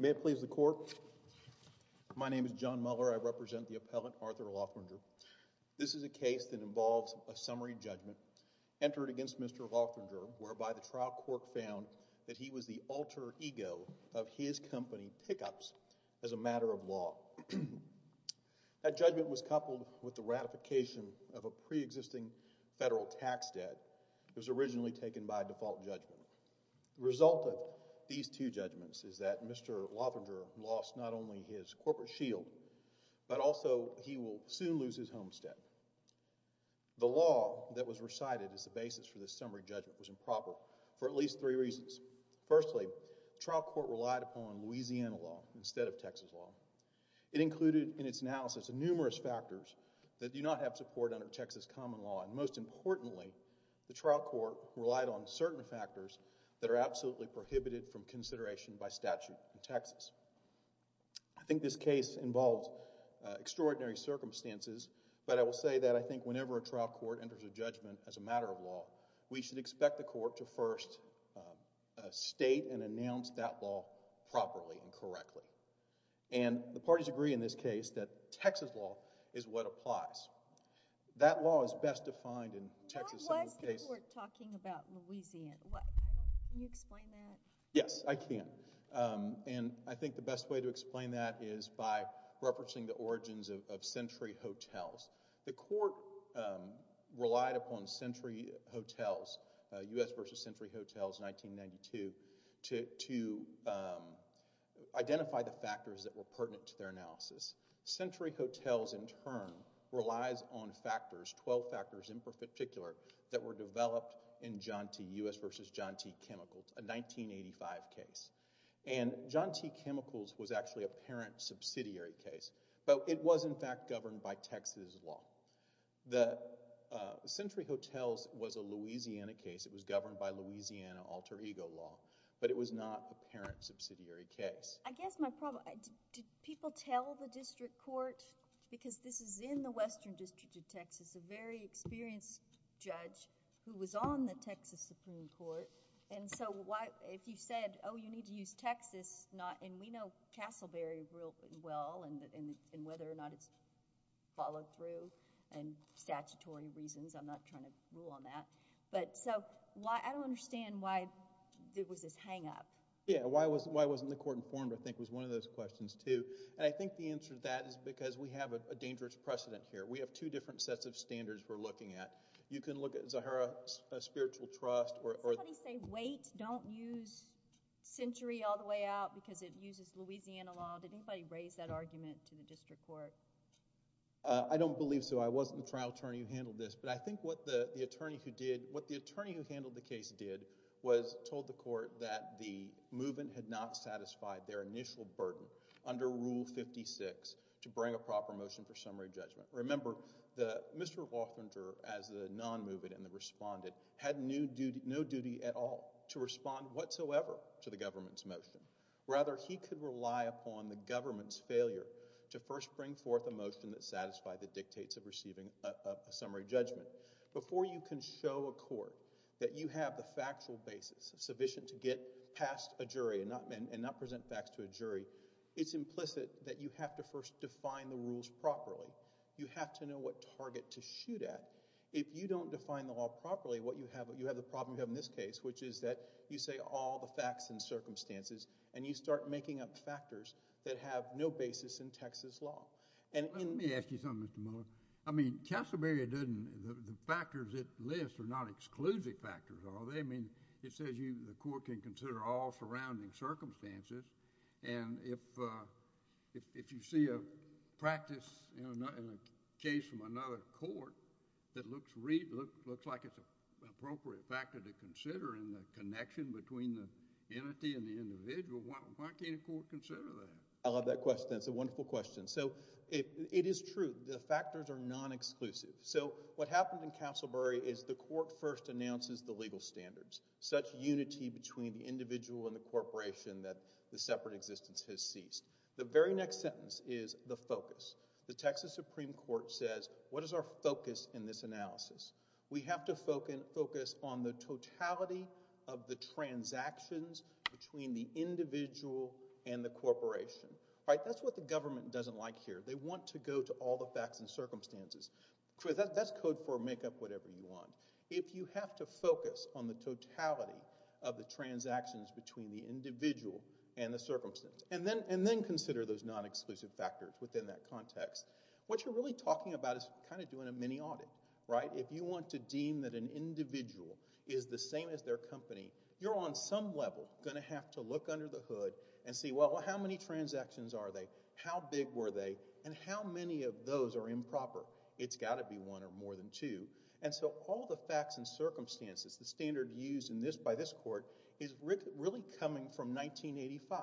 May it please the court, my name is John Muller, I represent the appellant Arthur Lothringer. This is a case that involves a summary judgment entered against Mr. Lothringer whereby the judgment was coupled with the ratification of a pre-existing federal tax debt that was originally taken by default judgment. The result of these two judgments is that Mr. Lothringer lost not only his corporate shield but also he will soon lose his homestead. The law that was recited as the basis for this summary judgment was improper for at least three reasons. Firstly, the trial court relied upon Louisiana law instead of Texas law. It included in its analysis numerous factors that do not have support under Texas common law and most importantly, the trial court relied on certain factors that are absolutely prohibited from consideration by statute in Texas. I think this case involves extraordinary circumstances but I will say that I think whenever a trial court enters a judgment as a matter of law, we should expect the court to first state and announce that law properly and correctly. And the parties agree in this case that Texas law is what applies. That law is best defined in Texas summary case... What was the court talking about Louisiana? Can you explain that? Yes, I can. And I think the best way to explain that is by referencing the origins of Century Hotels. The court relied upon Century Hotels, U.S. v. Century Hotels, 1992, to identify the factors that were pertinent to their analysis. Century Hotels in turn relies on factors, twelve factors in particular, that were developed in John T., U.S. v. John T. Chemicals, a 1985 case. And John T. Chemicals was actually a parent subsidiary case but it was in fact governed by Texas law. The Century Hotels was a Louisiana case, it was governed by Louisiana alter ego law, but it was not a parent subsidiary case. I guess my problem... did people tell the district court because this is in the Western District of Texas, a very experienced judge who was on the Texas Supreme Court and so why... if you said, oh, you need to use Texas not... and we know Castleberry real well and whether or not it's followed through and statutory reasons, I'm not trying to rule on that, but... so I don't understand why there was this hang up. Yeah, why wasn't the court informed I think was one of those questions too. And I think the answer to that is because we have a dangerous precedent here. We have two different sets of standards we're looking at. You can look at Zahara Spiritual Trust or... Did anybody say wait, don't use Century all the way out because it uses Louisiana law? Did anybody raise that argument to the district court? I don't believe so. I wasn't the trial attorney who handled this, but I think what the attorney who did... what the attorney who handled the case did was told the court that the movement had not satisfied their initial burden under Rule 56 to bring a proper motion for summary judgment. Remember, Mr. Woffinger as the non-movement and the respondent had no duty at all to respond whatsoever to the government's motion. Rather, he could rely upon the government's failure to first bring forth a motion that satisfied the dictates of receiving a summary judgment. Before you can show a court that you have the factual basis sufficient to get past a jury and not present facts to a jury, it's implicit that you have to first define the law. You have to know what target to shoot at. If you don't define the law properly, what you have... you have the problem you have in this case, which is that you say all the facts and circumstances and you start making up factors that have no basis in Texas law. Let me ask you something, Mr. Miller. I mean, Castleberry didn't... the factors it lists are not exclusive factors, are they? I mean, it says the court can consider all surrounding circumstances and if you see a practice in a case from another court that looks like it's an appropriate factor to consider in the connection between the entity and the individual, why can't a court consider that? I love that question. That's a wonderful question. So, it is true, the factors are non-exclusive. So what happened in Castleberry is the court first announces the legal standards, such unity between the individual and the corporation that the separate existence has ceased. The very next sentence is the focus. The Texas Supreme Court says, what is our focus in this analysis? We have to focus on the totality of the transactions between the individual and the corporation. Right? That's what the government doesn't like here. They want to go to all the facts and circumstances. That's code for make up whatever you want. If you have to focus on the totality of the transactions between the individual and the corporation, you can consider those non-exclusive factors within that context. What you're really talking about is kind of doing a mini audit. Right? If you want to deem that an individual is the same as their company, you're on some level going to have to look under the hood and see, well, how many transactions are they? How big were they? And how many of those are improper? It's got to be one or more than two. And so, all the facts and circumstances, the standard used by this court is really coming from 1985,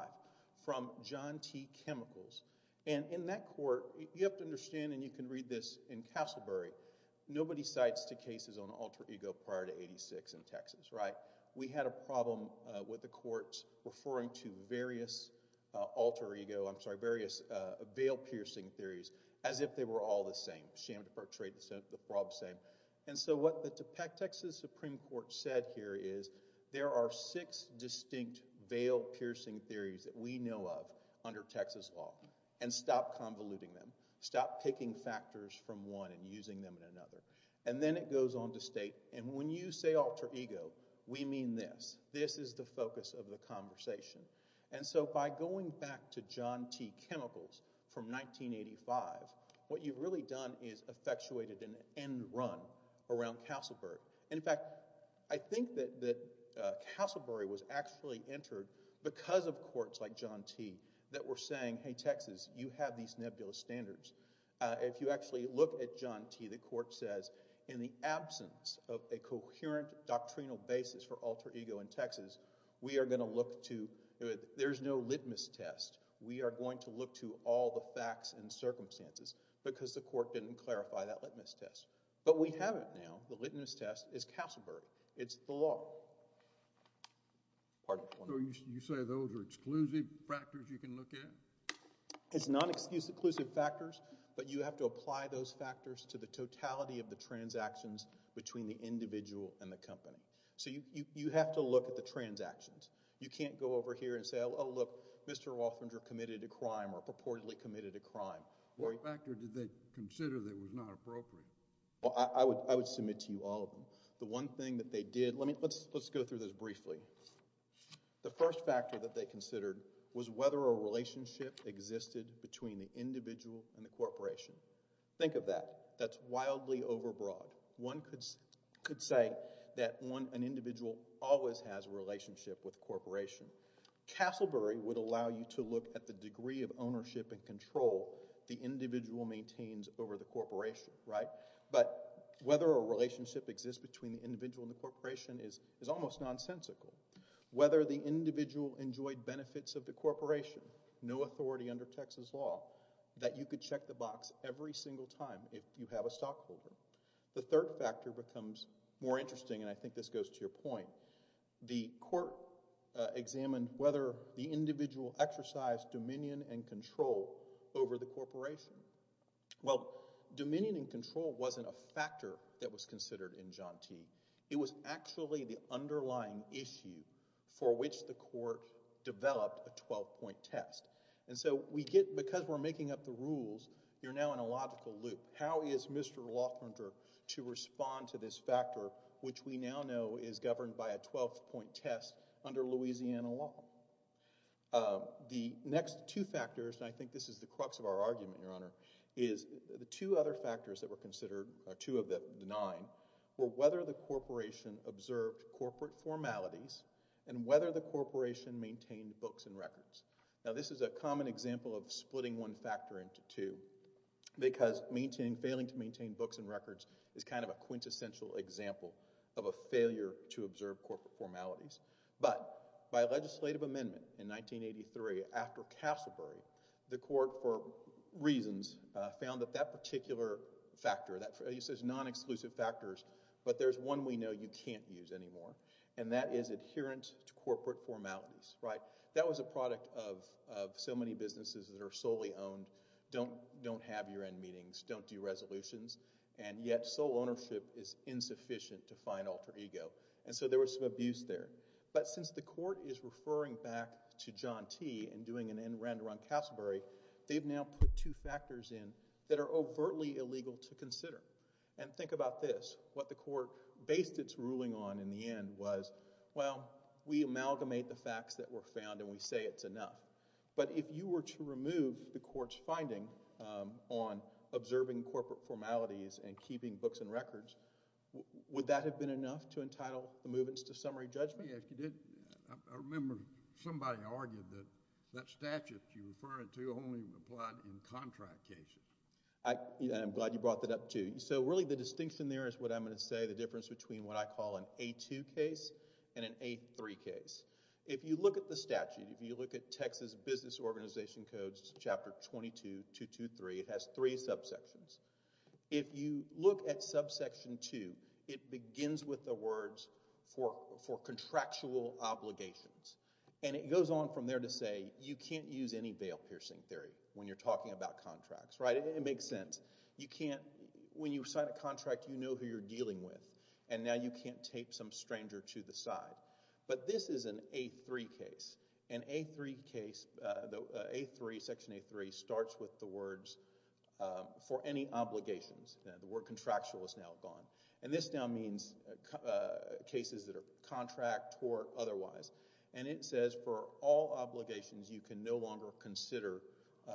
from John T. Chemicals. And in that court, you have to understand, and you can read this in Castlebury, nobody cites the cases on alter ego prior to 86 in Texas. Right? We had a problem with the courts referring to various alter ego, I'm sorry, various veil piercing theories as if they were all the same, sham, perjury, the problem's same. And so, what the Texas Supreme Court said here is, there are six distinct veil piercing theories that we know of under Texas law. And stop convoluting them. Stop picking factors from one and using them in another. And then it goes on to state, and when you say alter ego, we mean this. This is the focus of the conversation. And so, by going back to John T. Chemicals from 1985, what you've really done is effectuated an end run around Castlebury. And in fact, I think that Castlebury was actually entered because of courts like John T. that were saying, hey, Texas, you have these nebulous standards. If you actually look at John T., the court says, in the absence of a coherent doctrinal basis for alter ego in Texas, we are going to look to, there's no litmus test. We are going to look to all the facts and circumstances. Because the court didn't clarify that litmus test. But we have it now. The litmus test is Castlebury. It's the law. Pardon me. So, you say those are exclusive factors you can look at? It's not exclusive factors, but you have to apply those factors to the totality of the transactions between the individual and the company. So, you have to look at the transactions. You can't go over here and say, oh, look, Mr. Walfringer committed a crime or purportedly committed a crime. What factor did they consider that was not appropriate? Well, I would submit to you all of them. The one thing that they did, let's go through this briefly. The first factor that they considered was whether a relationship existed between the individual and the corporation. Think of that. That's wildly overbroad. One could say that an individual always has a relationship with a corporation. Castlebury would allow you to look at the degree of ownership and control the individual maintains over the corporation, right? But whether a relationship exists between the individual and the corporation is almost nonsensical. Whether the individual enjoyed benefits of the corporation, no authority under Texas law, that you could check the box every single time if you have a stockholder. The third factor becomes more interesting, and I think this goes to your point. The court examined whether the individual exercised dominion and control over the corporation. Well, dominion and control wasn't a factor that was considered in Jante. It was actually the underlying issue for which the court developed a 12-point test. And so we get, because we're making up the rules, you're now in a logical loop. How is Mr. Laughlinter to respond to this factor, which we now know is governed by a 12-point test under Louisiana law? The next two factors, and I think this is the crux of our argument, Your Honor, is the two other factors that were considered, or two of the nine, were whether the corporation observed corporate formalities and whether the corporation maintained books and records. Now, this is a common example of splitting one factor into two, because failing to maintain books and records is kind of a quintessential example of a failure to observe corporate formalities. But by a legislative amendment in 1983 after Castlebury, the court, for reasons, found that that particular factor, that he says non-exclusive factors, but there's one we know you can't use anymore, and that is adherence to corporate formalities, right? That was a product of so many businesses that are solely owned, don't have year-end meetings, don't do resolutions, and yet sole ownership is insufficient to find alter ego. And so there was some abuse there. But since the court is referring back to John T. and doing an end round around Castlebury, they've now put two factors in that are overtly illegal to consider. And think about this, what the court based its ruling on in the end was, well, we amalgamate the facts that were found and we say it's enough. But if you were to remove the court's finding on observing corporate formalities and keeping books and records, would that have been enough to entitle the movements to summary judgment? Yeah, if you did, I remember somebody argued that that statute you're referring to only applied in contract cases. I'm glad you brought that up too. So really the distinction there is what I'm going to say, the difference between what I call an A-2 case and an A-3 case. If you look at the statute, if you look at Texas Business Organization Codes Chapter 22-223, it has three subsections. If you look at subsection two, it begins with the words for contractual obligations. And it goes on from there to say you can't use any veil-piercing theory when you're talking about contracts, right? It makes sense. You can't... when you sign a contract, you know who you're dealing with. And now you can't tape some stranger to the side. But this is an A-3 case. An A-3 case, the A-3, section A-3, starts with the words for any obligations. The word contractual is now gone. And this now means cases that are contract or otherwise. And it says for all obligations, you can no longer consider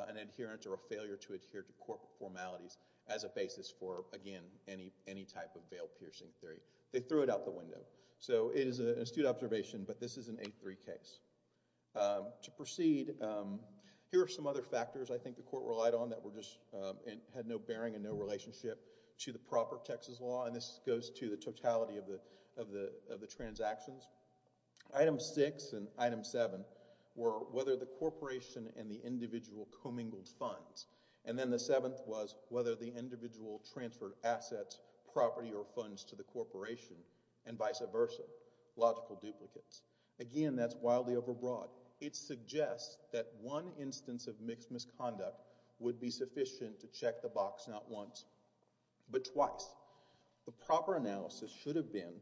an adherence or a failure to adhere to corporate formalities as a basis for, again, any type of veil-piercing theory. They threw it out the window. So it is an astute observation, but this is an A-3 case. To proceed, here are some other factors I think the court relied on that were just... had no bearing and no relationship to the proper Texas law. And this goes to the totality of the transactions. Item six and item seven were whether the corporation and the individual commingled funds. And then the seventh was whether the individual transferred assets, property, or funds to the corporation, and vice versa, logical duplicates. Again, that's wildly overbroad. It suggests that one instance of mixed misconduct would be sufficient to check the box not once, but twice. The proper analysis should have been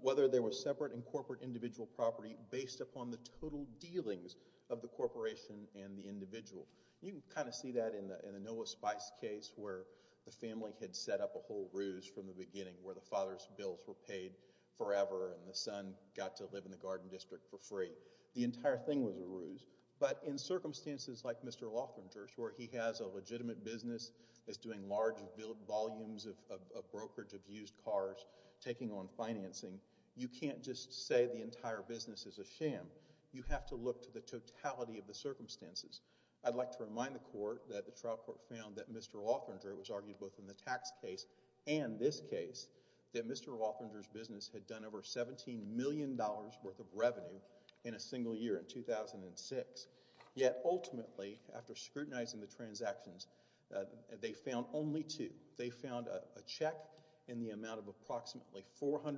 whether there was separate and corporate individual property based upon the total dealings of the corporation and the individual. You can kind of see that in the Noah Spice case where the family had set up a whole ruse from the beginning where the father's bills were paid forever and the son got to live in the garden district for free. The entire thing was a ruse. But in circumstances like Mr. Loefflinger's where he has a legitimate business that's doing large volumes of brokerage of used cars, taking on financing, you can't just say the entire business is a sham. You have to look to the totality of the circumstances. I'd like to remind the court that the trial court found that Mr. Loefflinger, which argued both in the tax case and this case, that Mr. Loefflinger's business had done over $17 million worth of revenue in a single year in 2006. Yet ultimately, after scrutinizing the transactions, they found only two. They found a check in the amount of approximately $400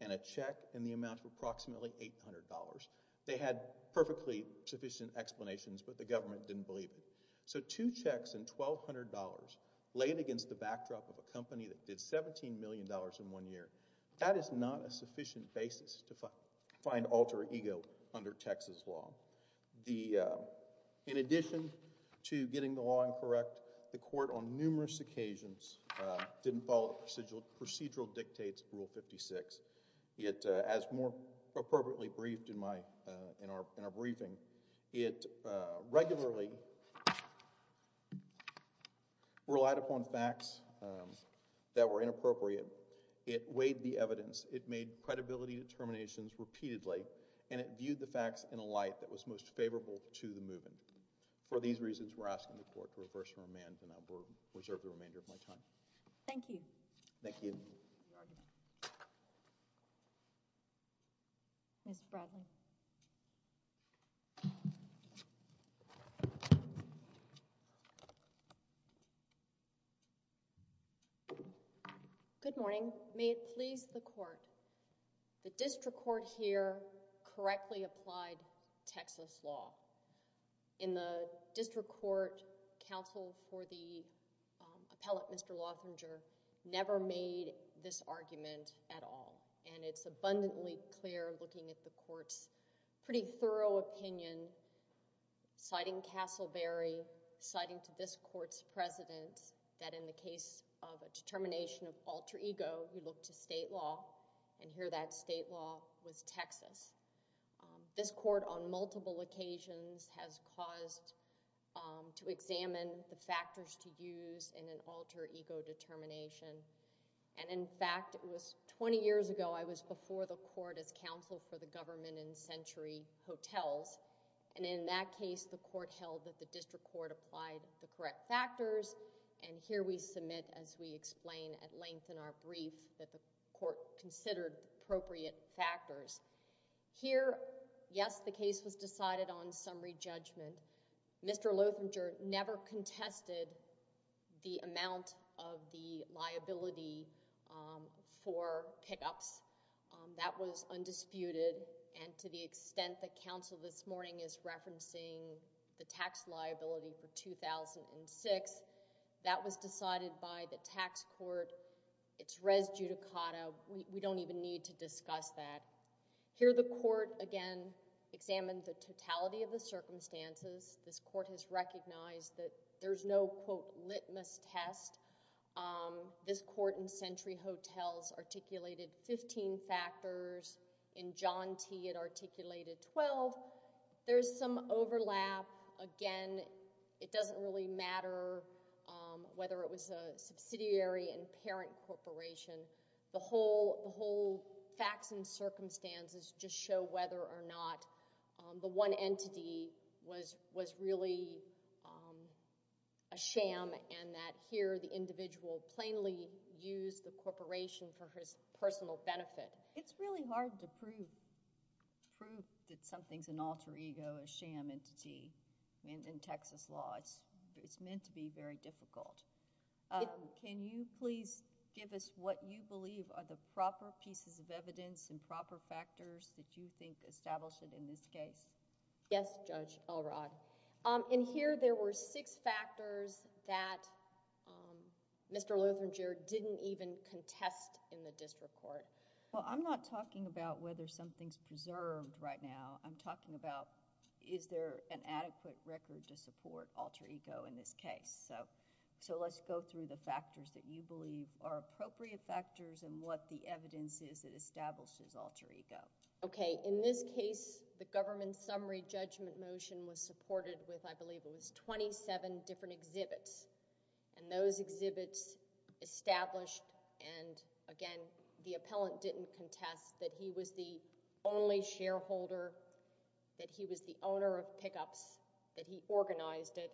and a check in the amount of approximately $800. They had perfectly sufficient explanations, but the government didn't believe them. So two checks in $1,200 laid against the backdrop of a company that did $17 million in one year. That is not a sufficient basis to find alter ego under Texas law. In addition to getting the law incorrect, the court on numerous occasions didn't follow procedural dictates of Rule 56. As more appropriately briefed in our briefing, it regularly relied upon facts that were inappropriate. It weighed the evidence. It made credibility determinations repeatedly, and it viewed the facts in a light that was most favorable to the movement. For these reasons, we're asking the court to reverse and remand, and I'll reserve the remainder of my time. Thank you. Thank you. Ms. Bradley. Good morning. May it please the court, the district court here correctly applied Texas law. In the district court, counsel for the appellate, Mr. Lothringer, never made this argument at all. It's abundantly clear looking at the court's pretty thorough opinion, citing Castleberry, citing to this court's president that in the case of a determination of alter ego, he looked to state law, and here that state law was Texas. This court on multiple occasions has caused to examine the factors to use in an alter ego determination. In fact, it was twenty years ago, I was before the court as counsel for the government in Century Hotels, and in that case, the court held that the district court applied the correct factors, and here we submit as we explain at length in our brief that the court considered appropriate factors. Here, yes, the case was decided on summary judgment. Mr. Lothringer never contested the amount of the liability for pickups. That was undisputed, and to the extent that counsel this morning is referencing the tax liability for 2006, that was decided by the tax court. It's res judicata. We don't even need to discuss that. Here the court, again, examined the totality of the circumstances. This court has recognized that there's no, quote, litmus test. This court in Century Hotels articulated fifteen factors. In John T., it articulated twelve. There's some overlap. Again, it doesn't really matter whether it was a subsidiary and parent corporation. The whole facts and circumstances just show whether or not the one entity was really a sham, and that here the individual plainly used the corporation for his personal benefit. It's really hard to prove that something's an alter ego, a sham entity, in Texas law. It's meant to be very difficult. Can you please give us what you believe are the proper pieces of evidence and proper factors that you think establish it in this case? Yes, Judge Elrod. In here, there were six factors that Mr. Lutheran Jr. didn't even contest in the district court. Well, I'm not talking about whether something's preserved right now. I'm talking about, is there an adequate record to support alter ego in this case? Let's go through the factors that you believe are appropriate factors and what the evidence is that establishes alter ego. Okay. In this case, the government summary judgment motion was supported with, I believe it was twenty-seven different exhibits, and those exhibits established, and again, the appellant didn't contest that he was the only shareholder, that he was the owner of pickups, that he organized it.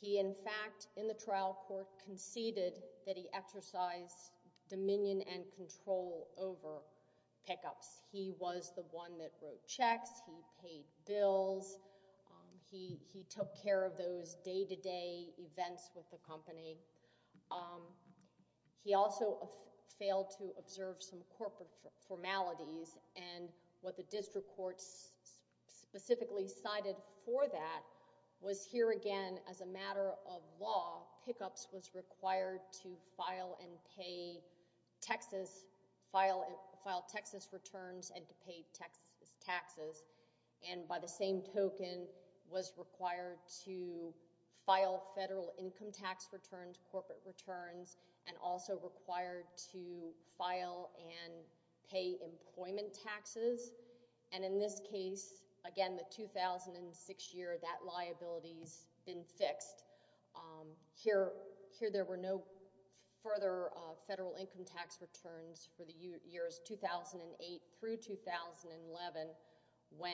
He, in fact, in the trial court conceded that he exercised dominion and control over pickups. He was the one that wrote checks, he paid bills, he took care of those day-to-day events with the company. He also failed to observe some corporate formalities, and what the district court specifically cited for that was here again, as a matter of law, pickups was required to file and pay taxes, file taxes returns and to pay taxes, and by the same token, was required to file federal income tax returns, corporate returns, and also required to file and pay employment taxes, and in this case, again, the 2006 year, that liability's been fixed. Here, there were no further federal income tax returns for the years 2008 through 2011, when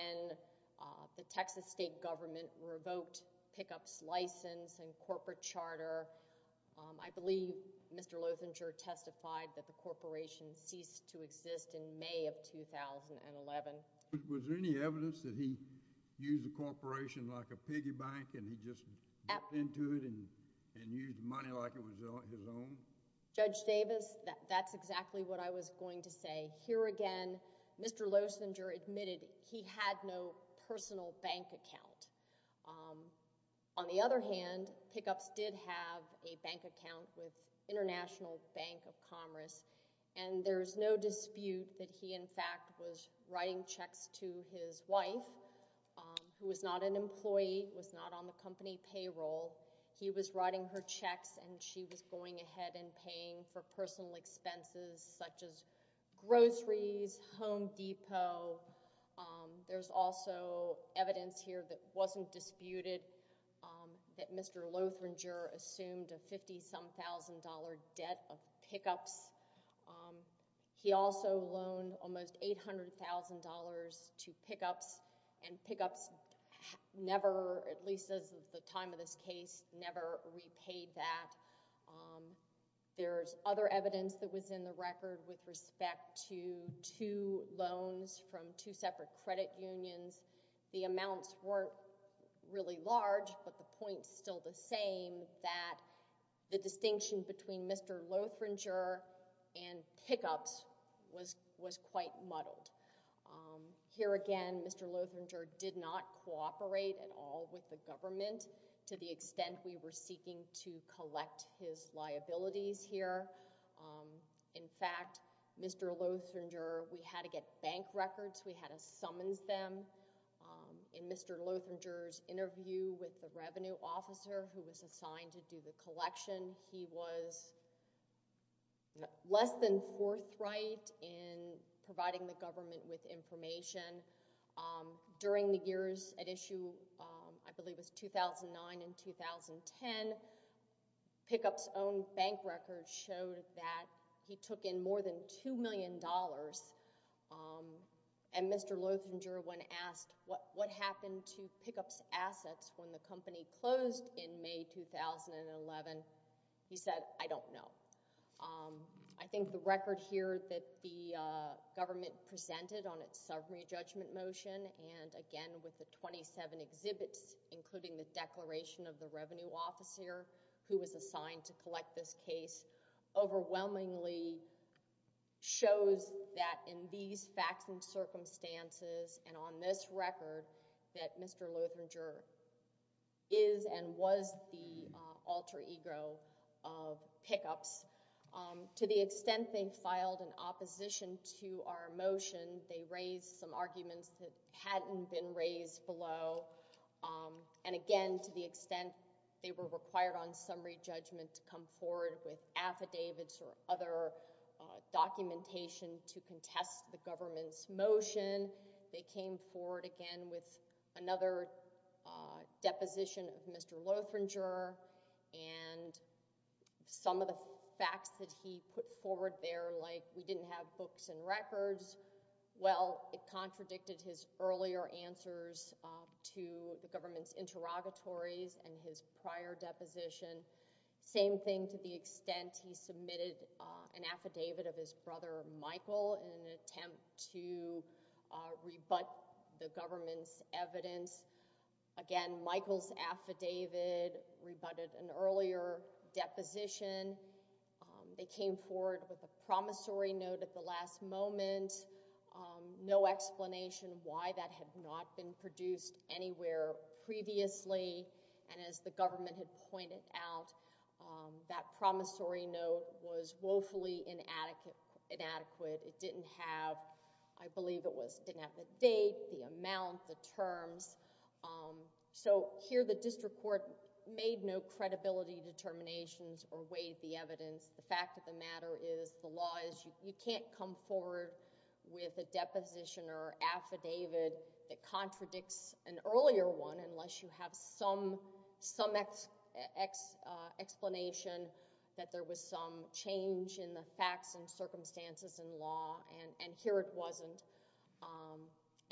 the Texas state government revoked pickups license and corporate charter. I believe Mr. Loessinger testified that the corporation ceased to exist in May of 2011. Was there any evidence that he used the corporation like a piggy bank and he just got into it and used money like it was his own? Judge Davis, that's exactly what I was going to say. Here again, Mr. Loessinger admitted he had no personal bank account. On the other hand, pickups did have a bank account with International Bank of Commerce, and there's no dispute that he, in fact, was writing checks to his wife, who was not an employee, was not on the company payroll. He was writing her checks, and she was going ahead and paying for personal expenses, such as groceries, Home Depot. There's also evidence here that wasn't disputed, that Mr. Loessinger assumed a $50-some-thousand debt of pickups. He also loaned almost $800,000 to pickups, and pickups never, at least as of the time of this case, never repaid that. There's other evidence that was in the record with respect to two loans from two separate credit unions. The amounts weren't really large, but the point's still the same, that the distinction between Mr. Loessinger and pickups was quite muddled. Here again, Mr. Loessinger did not cooperate at all with the government to the extent we were seeking to collect his liabilities here. In fact, Mr. Loessinger, we had to get bank records. We had to summons them. In Mr. Loessinger's interview with the revenue officer who was assigned to do the collection, he was less than forthright in providing the government with information. During the years at issue, I believe it was 2009 and 2010, pickups' own bank records showed that he took in more than $2 million, and Mr. Loessinger, when asked what happened to pickups' assets when the company closed in May 2011, he said, I don't know. I think the record here that the government presented on its summary judgment motion, and again with the 27 exhibits, including the declaration of the revenue officer who was assigned to collect this case, overwhelmingly shows that in these facts and circumstances and on this record that Mr. Loessinger is and was the alter ego of pickups. To the extent they filed an opposition to our motion, they raised some arguments that hadn't been raised below. And again, to the extent they were required on summary judgment to come forward with affidavits or other documentation to contest the government's motion, they came forward again with another deposition of Mr. Loessinger and some of the facts that he put forward there, like we didn't have books and records. Well, it contradicted his earlier answers to the government's interrogatories and his prior deposition. Same thing to the extent he submitted an affidavit of his brother Michael in an attempt to rebut the government's evidence. Again, Michael's affidavit rebutted an earlier deposition. They came forward with a promissory note at the last moment, no explanation why that had not been produced anywhere previously. And as the government had pointed out, that promissory note was woefully inadequate. It didn't have, I believe it was, it didn't have the date, the amount, the terms. So here the district court made no credibility determinations or weighed the evidence. The fact of the matter is the law is, you can't come forward with a deposition or affidavit that contradicts an earlier one unless you have some explanation that there was some change in the facts and circumstances in law. And here it wasn't.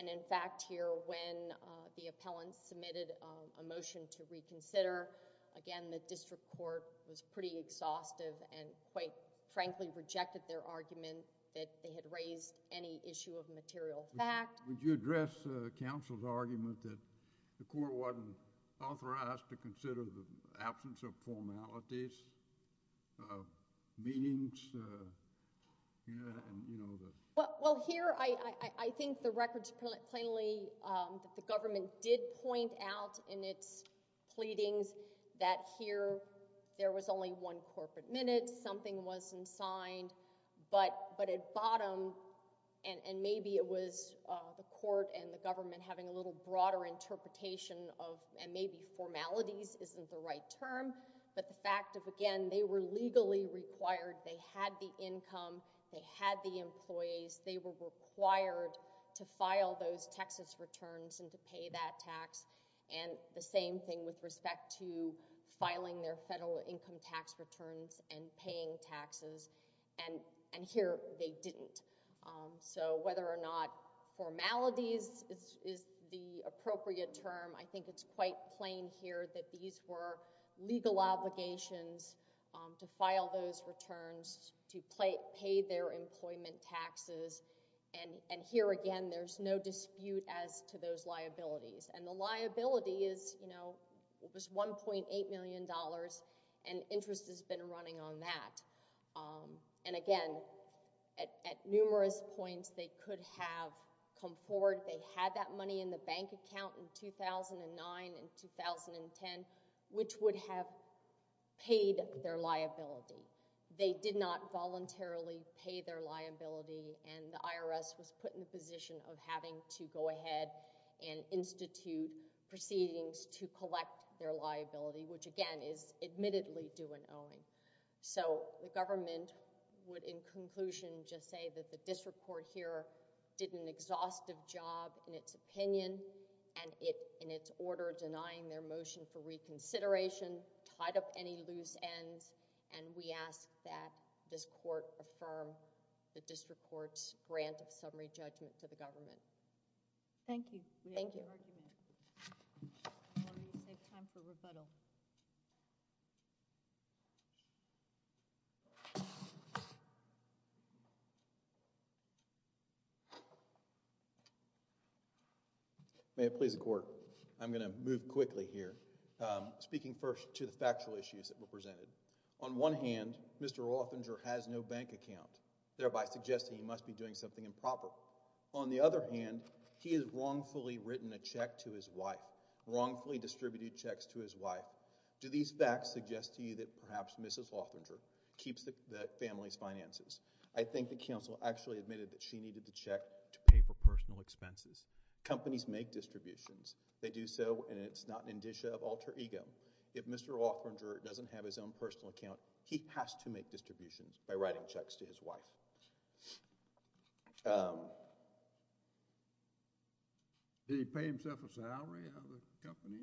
And in fact here when the appellant submitted a motion to reconsider, again the district court was pretty exhaustive and quite frankly rejected their argument that they had raised any issue of material fact. Would you address counsel's argument that the court wasn't authorized to consider the absence of formalities, of meanings, and, you know, the... Well, here I think the records plainly, the government did point out in its pleadings that here there was only one corporate minute, something wasn't signed, but at bottom, and maybe it was the court and the government having a little broader interpretation of, and maybe formalities isn't the right term, but the fact of, again, they were legally required, they had the income, they had the employees, they were required to file those taxes returns and to pay that tax, and the same thing with respect to filing their federal income tax returns and paying taxes, and here they didn't. So whether or not formalities is the appropriate term, I think it's quite plain here that these were legal obligations to file those returns, to pay their employment taxes, and here again there's no dispute as to those liabilities, and the liability is, you know, it was $1.8 million, and interest has been running on that. And again, at numerous points they could have come forward, they had that money in the bank account in 2009 and 2010, which would have paid their liability. They did not voluntarily pay their liability, and the IRS was put in the position of having to go ahead and institute proceedings to collect their liability, which again is admittedly due and owing. So the government would, in conclusion, just say that the district court here did an exhaustive job in its opinion and in its order denying their motion for reconsideration, tied up any loose ends, and we ask that this court affirm the district court's grant of summary judgment to the government. Thank you. Thank you. I'm going to take time for rebuttal. May it please the court. I'm going to move quickly here, speaking first to the factual issues that were presented. On one hand, Mr. Rothinger has no bank account, thereby suggesting he must be doing something improper. On the other hand, he has wrongfully written a check to his wife, wrongfully distributed checks to his wife. Do these facts suggest to you that perhaps Mrs. Rothinger keeps the family's finances? I think the counsel actually admitted that she needed the check to pay for personal expenses. Companies make distributions. They do so, and it's not an indicia of alter ego. If Mr. Rothinger doesn't have his own personal account, he has to make distributions by writing checks to his wife. Did he pay himself a salary out of the company?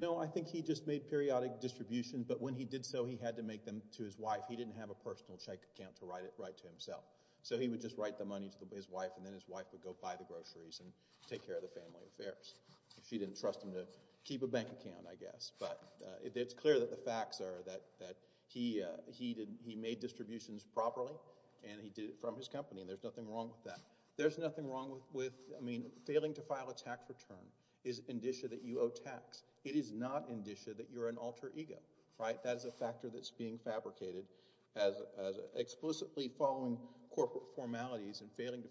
No, I think he just made periodic distributions. But when he did so, he had to make them to his wife. He didn't have a personal check account to write to himself. So he would just write the money to his wife, and then his wife would go buy the groceries and take care of the family affairs. She didn't trust him to keep a bank account, I guess. But it's clear that the facts are that he made distributions properly, and he did it from his company, and there's nothing wrong with that. There's nothing wrong with... I mean, failing to file a tax return is indicia that you owe tax. It is not indicia that you're an alter ego, right? That is a factor that's being fabricated as... Explicitly following corporate formalities and failing to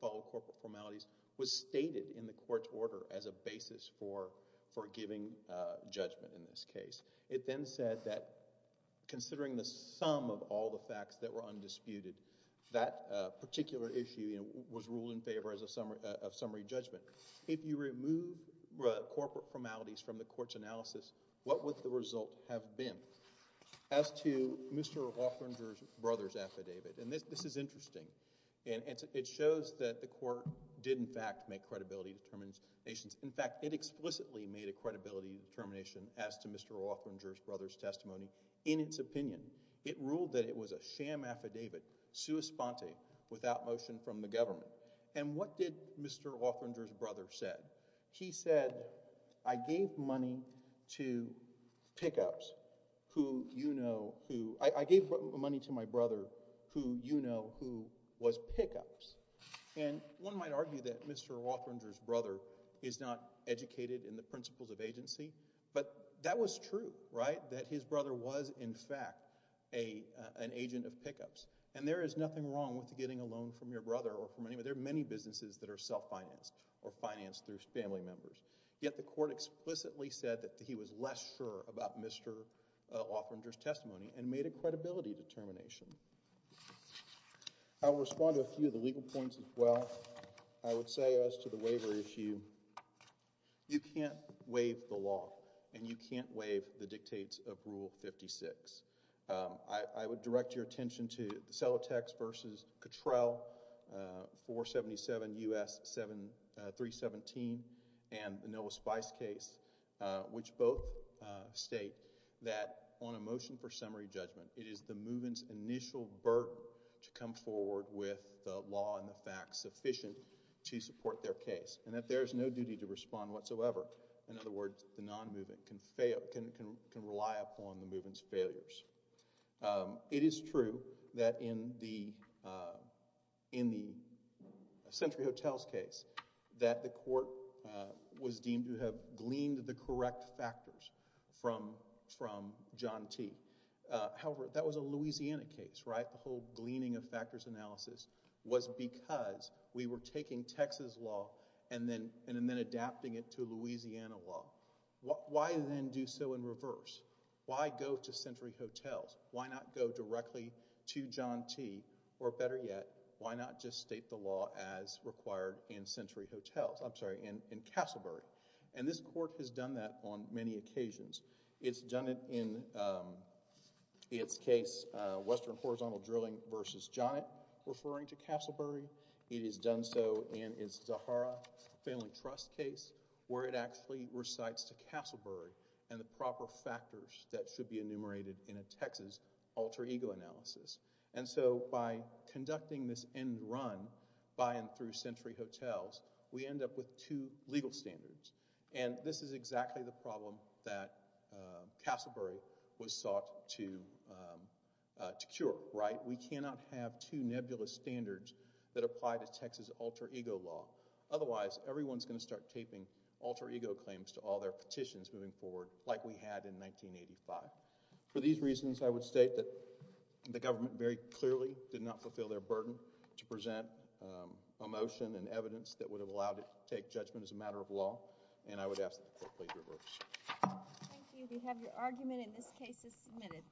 follow corporate formalities was stated in the court's order as a basis for giving judgment in this case. It then said that considering the sum of all the facts that were undisputed, that particular issue was ruled in favor of summary judgment. If you remove corporate formalities from the court's analysis, what would the result have been as to Mr. Wafflinger's brother's affidavit? And this is interesting. It shows that the court did, in fact, make credibility determinations. In fact, it explicitly made a credibility determination as to Mr. Wafflinger's brother's testimony in its opinion. It ruled that it was a sham affidavit, sua sponte, without motion from the government. And what did Mr. Wafflinger's brother say? He said, I gave money to pickups who you know who... I gave money to my brother who you know who was pickups. And one might argue that Mr. Wafflinger's brother is not educated in the principles of agency. But that was true, right? That his brother was, in fact, an agent of pickups. And there is nothing wrong with getting a loan from your brother. There are many businesses that are self-financed or financed through family members. Yet the court explicitly said that he was less sure about Mr. Wafflinger's testimony and made a credibility determination. I'll respond to a few of the legal points as well. I would say as to the waiver issue, you can't waive the law. And you can't waive the dictates of Rule 56. I would direct your attention to the Celotex v. Cottrell, 477 U.S. 7-317, and the Noah Spice case, which both state that on a motion for summary judgment, it is the movement's initial burden to come forward with the law and the facts sufficient to support their case and that there is no duty to respond whatsoever. In other words, the non-movement can rely upon the movement's failures. It is true that in the Century Hotels case that the court was deemed to have gleaned the correct factors from John T. However, that was a Louisiana case, right? The whole gleaning of factors analysis was because we were taking Texas law and then adapting it to Louisiana law. Why then do so in reverse? Why go to Century Hotels? Why not go directly to John T. Or better yet, why not just state the law as required in Century Hotels? I'm sorry, in Castleburg. And this court has done that on many occasions. It's done it in its case, Western Horizontal Drilling v. Jonnet, referring to Castleburg. It has done so in its Zahara Family Trust case where it actually recites to Castleburg and the proper factors that should be enumerated in a Texas alter ego analysis. And so by conducting this end run by and through Century Hotels, we end up with two legal standards. And this is exactly the problem that Castleburg was sought to cure, right? We cannot have two nebulous standards that apply to Texas alter ego law. Otherwise, everyone's going to start taping alter ego claims to all their petitions moving forward like we had in 1985. For these reasons, I would state that the government very clearly did not fulfill their burden to present a motion and evidence that would have allowed it to take judgment as a matter of law. And I would ask that the court please reverse. Thank you. We have your argument in this case as submitted.